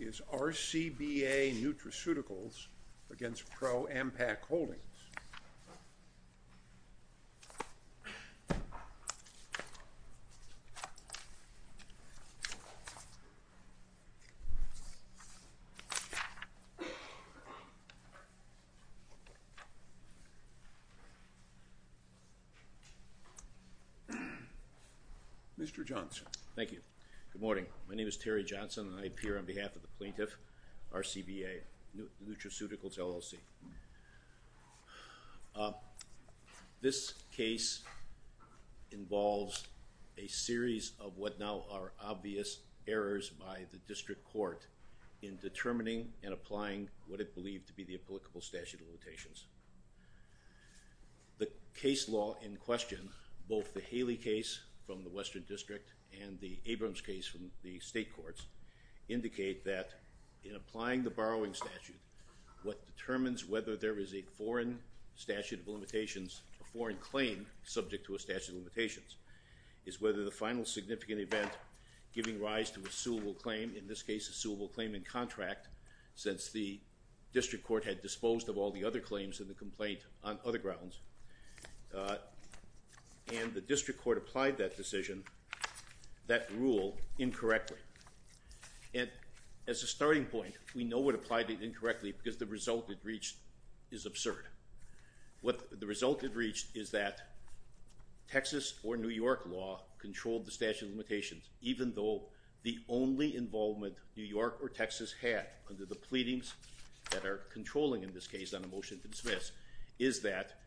is RCBA Nutraceuticals against ProAmpac Holdings. Mr. Johnson. Thank you. Good morning. My name is Terry Johnson and I appear on behalf of plaintiff RCBA Nutraceuticals, LLC. This case involves a series of what now are obvious errors by the district court in determining and applying what it believed to be the applicable statute of limitations. The case law in question both the Haley case from the Western District and the Abrams case from the state courts indicate that in applying the borrowing statute what determines whether there is a foreign statute of limitations a foreign claim subject to a statute of limitations is whether the final significant event giving rise to a suable claim in this case a suable claim in contract since the district court had disposed of all the other claims in the complaint on other grounds and the as a starting point we know what applied it incorrectly because the result it reached is absurd what the result it reached is that Texas or New York law controlled the statute of limitations even though the only involvement New York or Texas had under the pleadings that are controlling in this case on a motion to dismiss is that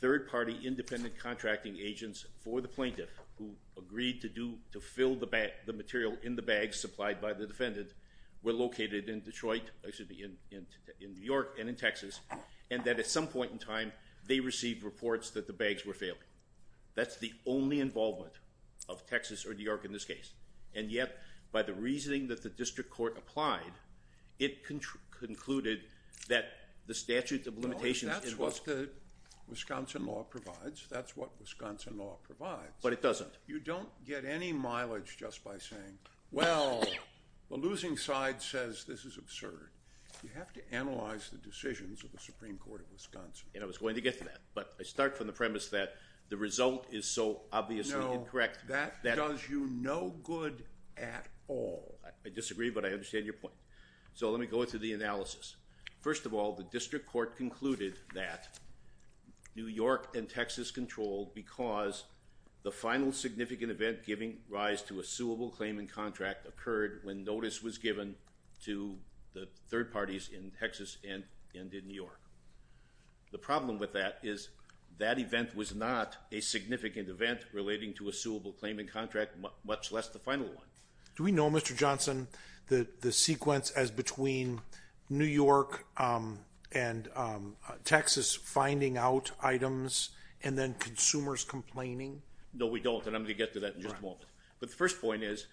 third-party independent contracting agents for the supplied by the defendant were located in Detroit excuse me in New York and in Texas and that at some point in time they received reports that the bags were failing that's the only involvement of Texas or New York in this case and yet by the reasoning that the district court applied it concluded that the statute of limitations is what's the Wisconsin law provides that's what Wisconsin law but it doesn't you don't get any mileage just by saying well the losing side says this is absurd you have to analyze the decisions of the Supreme Court of Wisconsin and I was going to get to that but I start from the premise that the result is so obviously correct that that does you no good at all I disagree but I understand your point so let me go into the analysis first of all the district court concluded that New York and Texas controlled because the final significant event giving rise to a suable claimant contract occurred when notice was given to the third parties in Texas and in New York the problem with that is that event was not a significant event relating to a suable claimant contract much less the final one do we know Mr. Johnson that the sequence as between New York and Texas finding out items and then consumers complaining no we don't and I'm gonna get to that but the first point is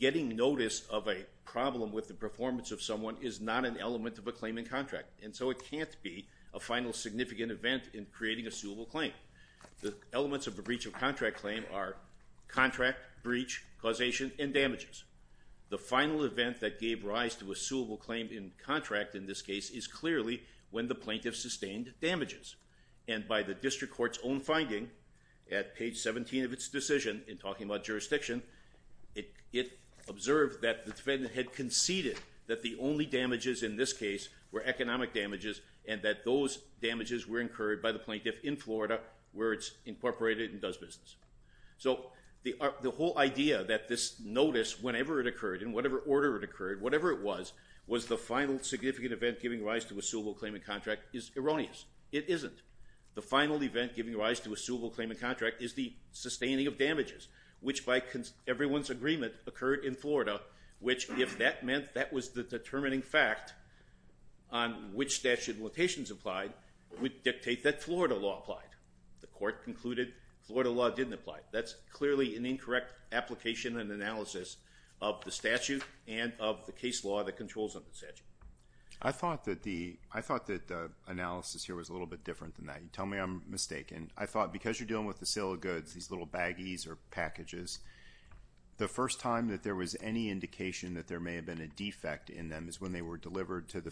getting notice of a problem with the performance of someone is not an element of a claiming contract and so it can't be a final significant event in creating a suable claim the elements of the breach of contract claim are contract breach causation and the final event that gave rise to a suable claim in contract in this case is clearly when the plaintiff sustained damages and by the district court's own finding at page 17 of its decision in talking about jurisdiction it observed that the defendant had conceded that the only damages in this case were economic damages and that those damages were incurred by the plaintiff in Florida where it's incorporated and does business so the whole idea that this notice whenever it occurred in whatever order it occurred whatever it was was the final significant event giving rise to a suable claim in contract is erroneous it isn't the final event giving rise to a suable claim in contract is the sustaining of damages which by everyone's agreement occurred in Florida which if that meant that was the determining fact on which statute locations applied would dictate that Florida law applied the court concluded Florida law didn't apply that's clearly an incorrect application and analysis of the statute and of the case law that controls on the statute I thought that the I thought that the analysis here was a little bit different than that you tell me I'm mistaken I thought because you're dealing with the sale of goods these little baggies or packages the first time that there was any indication that there may have been a defect in them is when they were delivered to the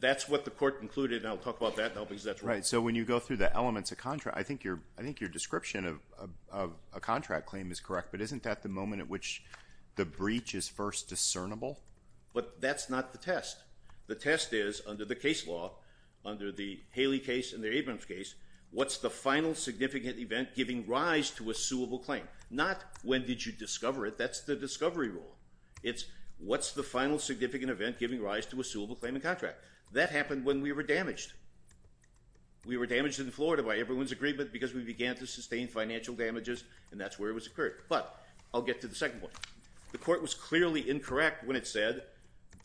that's what the court concluded I'll talk about that no because that's right so when you go through the elements of contract I think you're I think your description of a contract claim is correct but isn't that the moment at which the breach is first discernible but that's not the test the test is under the case law under the Haley case in the Abrams case what's the final significant event giving rise to a suable claim not when did you discover it that's the discovery rule it's what's the final significant event giving rise to a suable claim and contract that happened when we were damaged we were damaged in Florida by everyone's agreement because we began to sustain financial damages and that's where it was occurred but I'll get to the second point the court was clearly incorrect when it said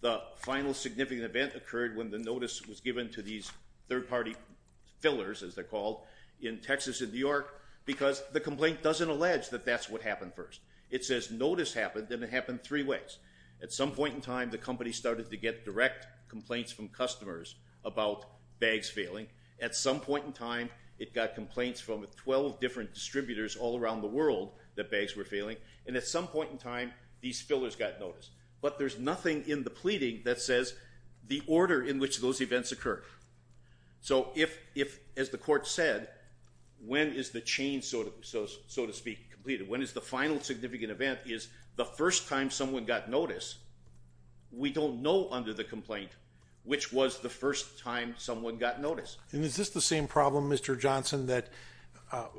the final significant event occurred when the notice was given to these third-party fillers as they're called in Texas in New York because the complaint doesn't allege that that's what happened first it says notice happened and it happened three ways at some point in time the company started to get direct complaints from customers about bags failing at some point in time it got complaints from 12 different distributors all around the world that bags were failing and at some point in time these fillers got noticed but there's nothing in the pleading that says the order in which those events occur so if if as the court said when is the chain sort of so so to speak completed when is the final significant event is the first time someone got notice we don't know under the complaint which was the first time someone got notice and is this the same problem mr. Johnson that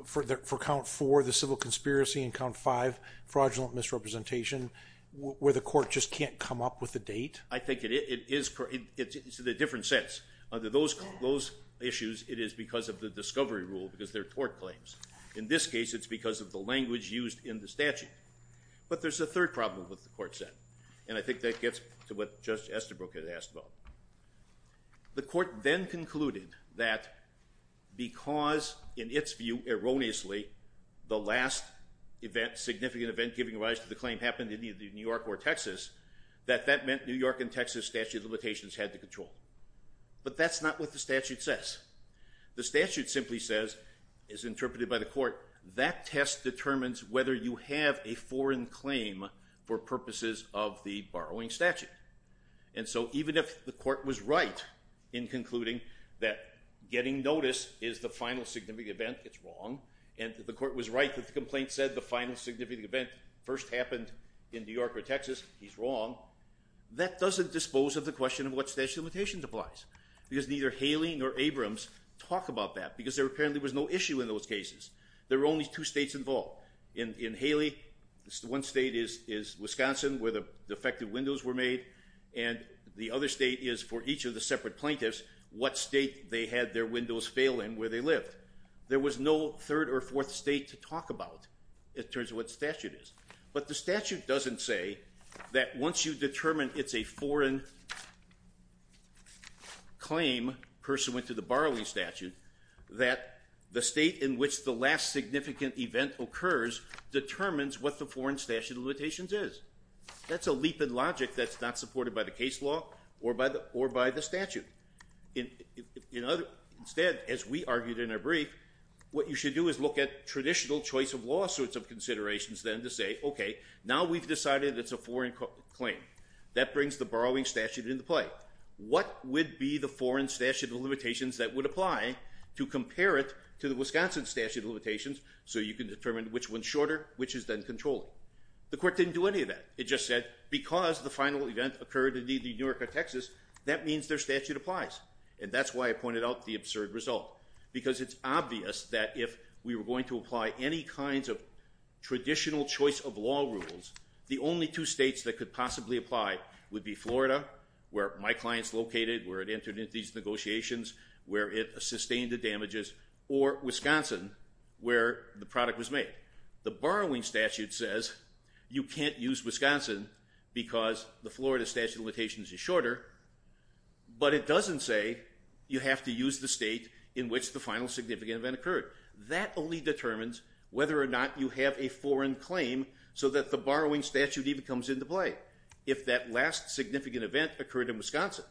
for count for the civil conspiracy and count five fraudulent misrepresentation where the court just can't come up with a date I think it is correct it's a different sense under those close issues it is because of the discovery rule because they're tort claims in this case it's because of the but there's a third problem with the court said and I think that gets to what just Estabrook had asked about the court then concluded that because in its view erroneously the last event significant event giving rise to the claim happened in either New York or Texas that that meant New York and Texas statute of limitations had to control but that's not what the statute says the statute simply says is interpreted by the court that test determines whether you have a foreign claim for purposes of the borrowing statute and so even if the court was right in concluding that getting notice is the final significant event it's wrong and the court was right that the complaint said the final significant event first happened in New York or Texas he's wrong that doesn't dispose of the question of what's the limitations applies because neither Haley nor Abrams talk about that because there apparently was no issue in those cases there were only two states involved in in Haley this one state is is Wisconsin where the defective windows were made and the other state is for each of the separate plaintiffs what state they had their windows fail in where they lived there was no third or fourth state to talk about it turns what statute is but the statute doesn't say that once you determine it's a foreign claim pursuant to the borrowing statute that the state in which the last significant event occurs determines what the foreign statute of limitations is that's a leap in logic that's not supported by the case law or by the or by the statute in you know instead as we argued in a brief what you should do is look at traditional choice of lawsuits of considerations then to say okay now we've decided it's a foreign claim that brings the borrowing statute into play what would be the foreign statute of limitations that would apply to compare it to the Wisconsin statute of limitations so you can determine which one's shorter which is then controlling the court didn't do any of that it just said because the final event occurred indeed the Newark of Texas that means their statute applies and that's why I pointed out the absurd result because it's obvious that if we were going to apply any kinds of traditional choice of law rules the only two states that could possibly apply would be Florida where my clients located where it entered into these negotiations where it sustained the damages or Wisconsin where the product was made the borrowing statute says you can't use Wisconsin because the Florida statute of limitations is shorter but it doesn't say you have to use the state in which the final significant event occurred that only determines whether or not you have a foreign claim so that the borrowing statute even comes into play if that last significant event occurred in Wisconsin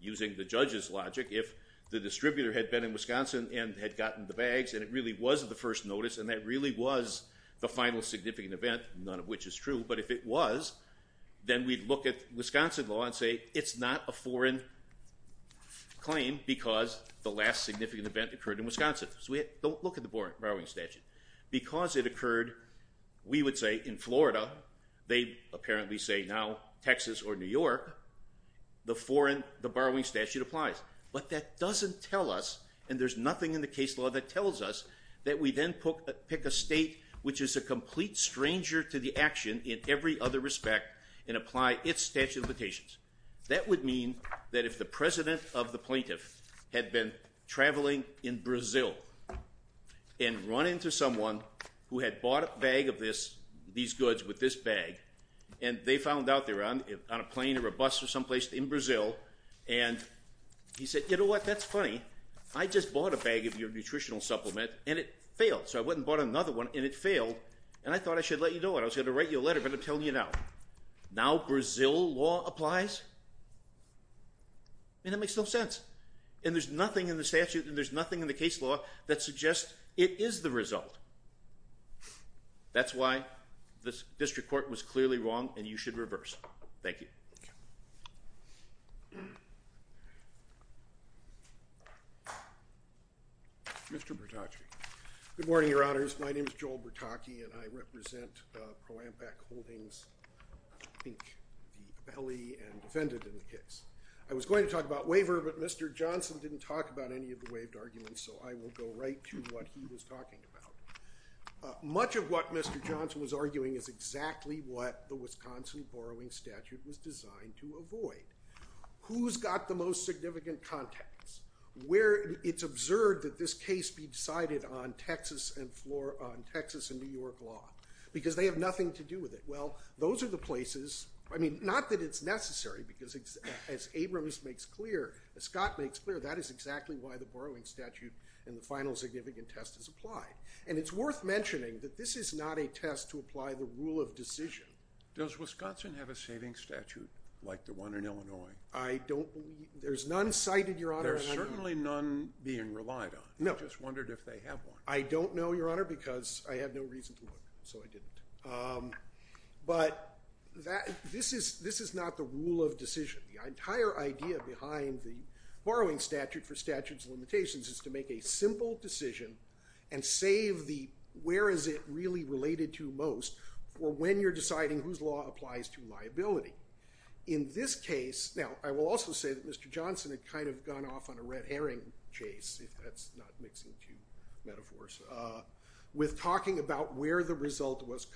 using the judges logic if the distributor had been in Wisconsin and had gotten the bags and it really was the first notice and that really was the final significant event none of which is true but if it was then we'd look at Wisconsin law and say it's not a foreign claim because the last significant event occurred in Wisconsin so we don't look at the boring borrowing statute because it occurred we would say in Florida they apparently say now Texas or New York the foreign the borrowing statute applies but that doesn't tell us and there's nothing in the case law that tells us that we then put pick a state which is a complete stranger to the action in every other respect and apply its statute of limitations that would mean that if the president of the plaintiff had been traveling in Brazil and run into someone who had bought a bag of this these goods with this bag and they found out they run on a plane or a bus or someplace in Brazil and he said you know what that's funny I just bought a bag of your nutritional supplement and it failed so I wouldn't bought another one and it failed and I thought I should let you know what I was gonna write you a letter but I'm telling you now now Brazil law applies and it makes no and there's nothing in the statute and there's nothing in the case law that suggests it is the result that's why this district court was clearly wrong and you should reverse thank you mr. Brattach good morning your honors my name is Joel Brattachi and I represent pro-impact holdings belly and defended in the case I was going to talk about but mr. Johnson didn't talk about any of the waived arguments so I will go right to what he was talking about much of what mr. Johnson was arguing is exactly what the Wisconsin borrowing statute was designed to avoid who's got the most significant context where it's observed that this case be decided on Texas and floor on Texas and New York law because they have nothing to do with it well those are the places I mean not that it's necessary because it's as makes clear as Scott makes clear that is exactly why the borrowing statute and the final significant test is applied and it's worth mentioning that this is not a test to apply the rule of decision does Wisconsin have a saving statute like the one in Illinois I don't believe there's none cited your honor certainly none being relied on no just wondered if they have one I don't know your honor because I have no reason to look so I didn't but that this is this is not the rule of decision the entire idea behind the borrowing statute for statutes limitations is to make a simple decision and save the where is it really related to most for when you're deciding whose law applies to liability in this case now I will also say that mr. Johnson had kind of gone off on a red herring chase if that's not mixing two metaphors with talking about where the result was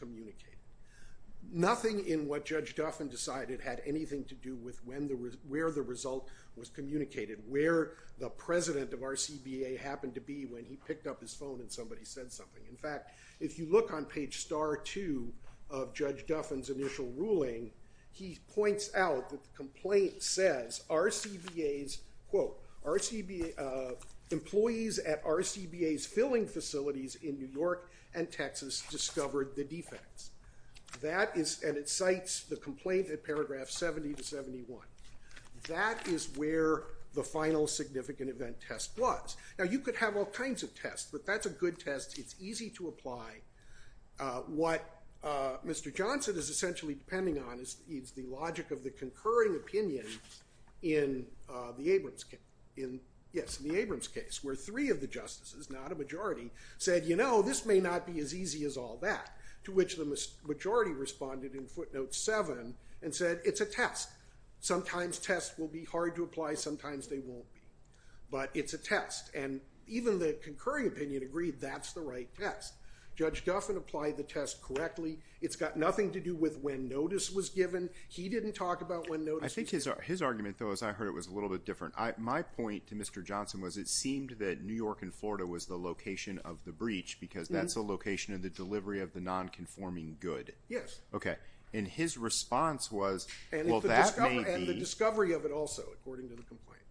nothing in what judge Duffin decided had anything to do with when the where the result was communicated where the president of our CBA happened to be when he picked up his phone and somebody said something in fact if you look on page star two of judge Duffin's initial ruling he points out that the complaint says our CBA's quote our CBA employees at our CBA's filling facilities in New that is and it cites the complaint at paragraph 70 to 71 that is where the final significant event test was now you could have all kinds of tests but that's a good test it's easy to apply what mr. Johnson is essentially depending on is needs the logic of the concurring opinion in the Abrams in yes in the Abrams case where three of the justices not a majority said you know this may not be as easy as all that to which the majority responded in footnotes seven and said it's a test sometimes tests will be hard to apply sometimes they won't be but it's a test and even the concurring opinion agreed that's the right test judge Duffin applied the test correctly it's got nothing to do with when notice was given he didn't talk about when notice I think his his argument though as I heard it was a little bit different I my point to mr. Johnson was it seemed that New York and Florida was the location of the breach because that's a location of the delivery of the non-conforming good yes okay in his response was and the discovery of it also according to the complaint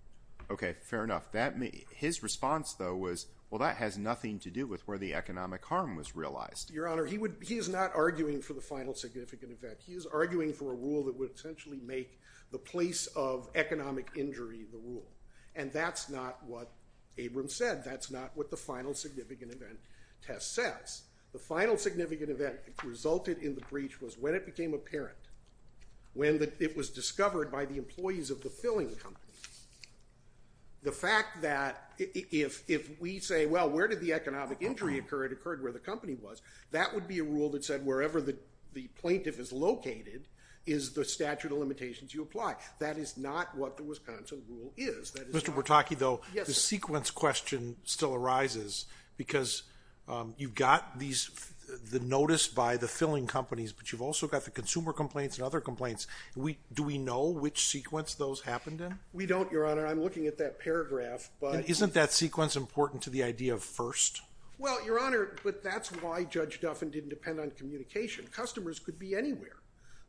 okay fair enough that me his response though was well that has nothing to do with where the economic harm was realized your honor he would he is not arguing for the final significant event he is arguing for a rule that would essentially make the place of economic injury the rule and that's not what Abrams said that's not what the final significant event test says the final significant event resulted in the breach was when it became apparent when that it was discovered by the employees of the filling the fact that if we say well where did the economic injury occurred occurred where the company was that would be a rule that said wherever the the plaintiff is located is the statute of limitations you apply that is not what the Wisconsin rule is that mr. sequence question still arises because you've got these the notice by the filling companies but you've also got the consumer complaints and other complaints we do we know which sequence those happened in we don't your honor I'm looking at that paragraph but isn't that sequence important to the idea of first well your honor but that's why judge Duffin didn't depend on communication customers could be anywhere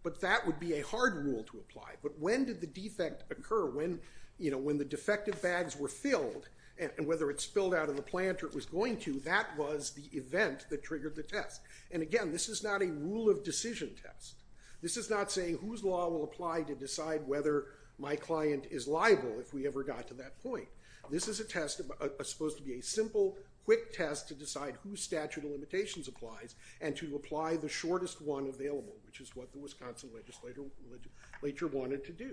but that would be a hard rule to apply but when did the defect occur when you know when the defective bags were filled and whether it spilled out of the plant or it was going to that was the event that triggered the test and again this is not a rule of decision test this is not saying whose law will apply to decide whether my client is liable if we ever got to that point this is a test of supposed to be a simple quick test to decide whose statute of limitations applies and to apply the shortest one available which is what the Wisconsin legislature wanted to do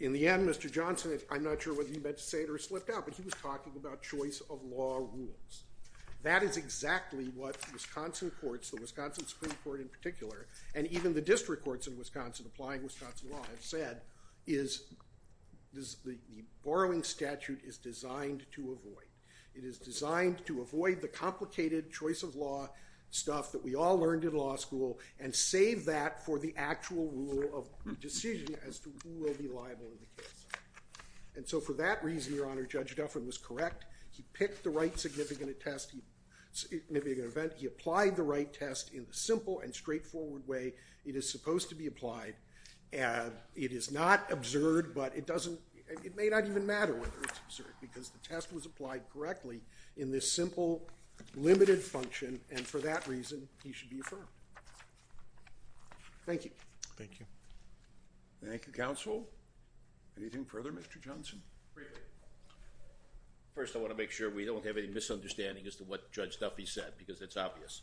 in the end mr. Johnson is I'm not sure what he meant to say it or slipped out but he was talking about choice of law rules that is exactly what Wisconsin courts the Wisconsin Supreme Court in particular and even the district courts in Wisconsin applying Wisconsin law have said is this the borrowing statute is designed to avoid it is designed to avoid the complicated choice of law stuff that we all learned in law school and save that for the actual rule of decision as to who will be liable in the case and so for that reason your honor judge Duffin was correct he picked the right significant attesting maybe an event he applied the right test in the simple and straightforward way it is supposed to be applied and it is not absurd but it doesn't it may not even matter whether it's absurd because the test was applied correctly in this simple limited function and for that reason he should be affirmed thank you thank you counsel anything further mr. Johnson first I want to make sure we don't have any misunderstanding as to what judge Duffy said because it's obvious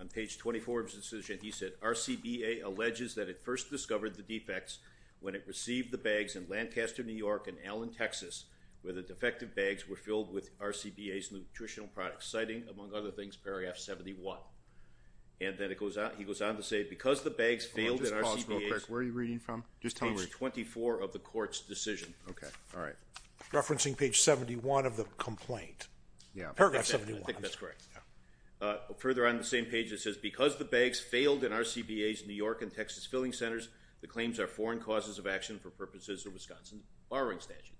on page 24 decision he said our CBA alleges that it first discovered the defects when it received the bags in Lancaster New York and Allen Texas where the defective bags were filled with our CBA's nutritional products citing among other things periaphs 71 and then it goes out he goes on to say because the where are you reading from just tell me 24 of the court's decision okay all right referencing page 71 of the complaint yeah I think that's correct further on the same page that says because the bags failed in our CBA's New York and Texas filling centers the claims are foreign causes of action for purposes of Wisconsin borrowing statute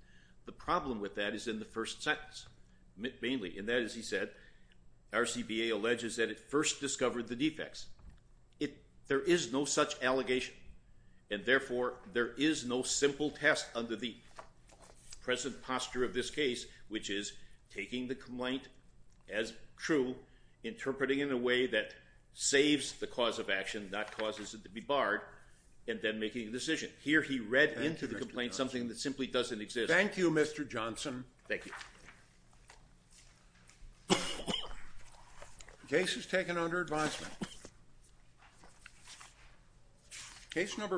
the problem with that is in the first sentence mainly in that as he said our CBA alleges that it first discovered the and therefore there is no simple test under the present posture of this case which is taking the complaint as true interpreting in a way that saves the cause of action that causes it to be barred and then making a decision here he read into the complaint something that simply doesn't exist thank you mr.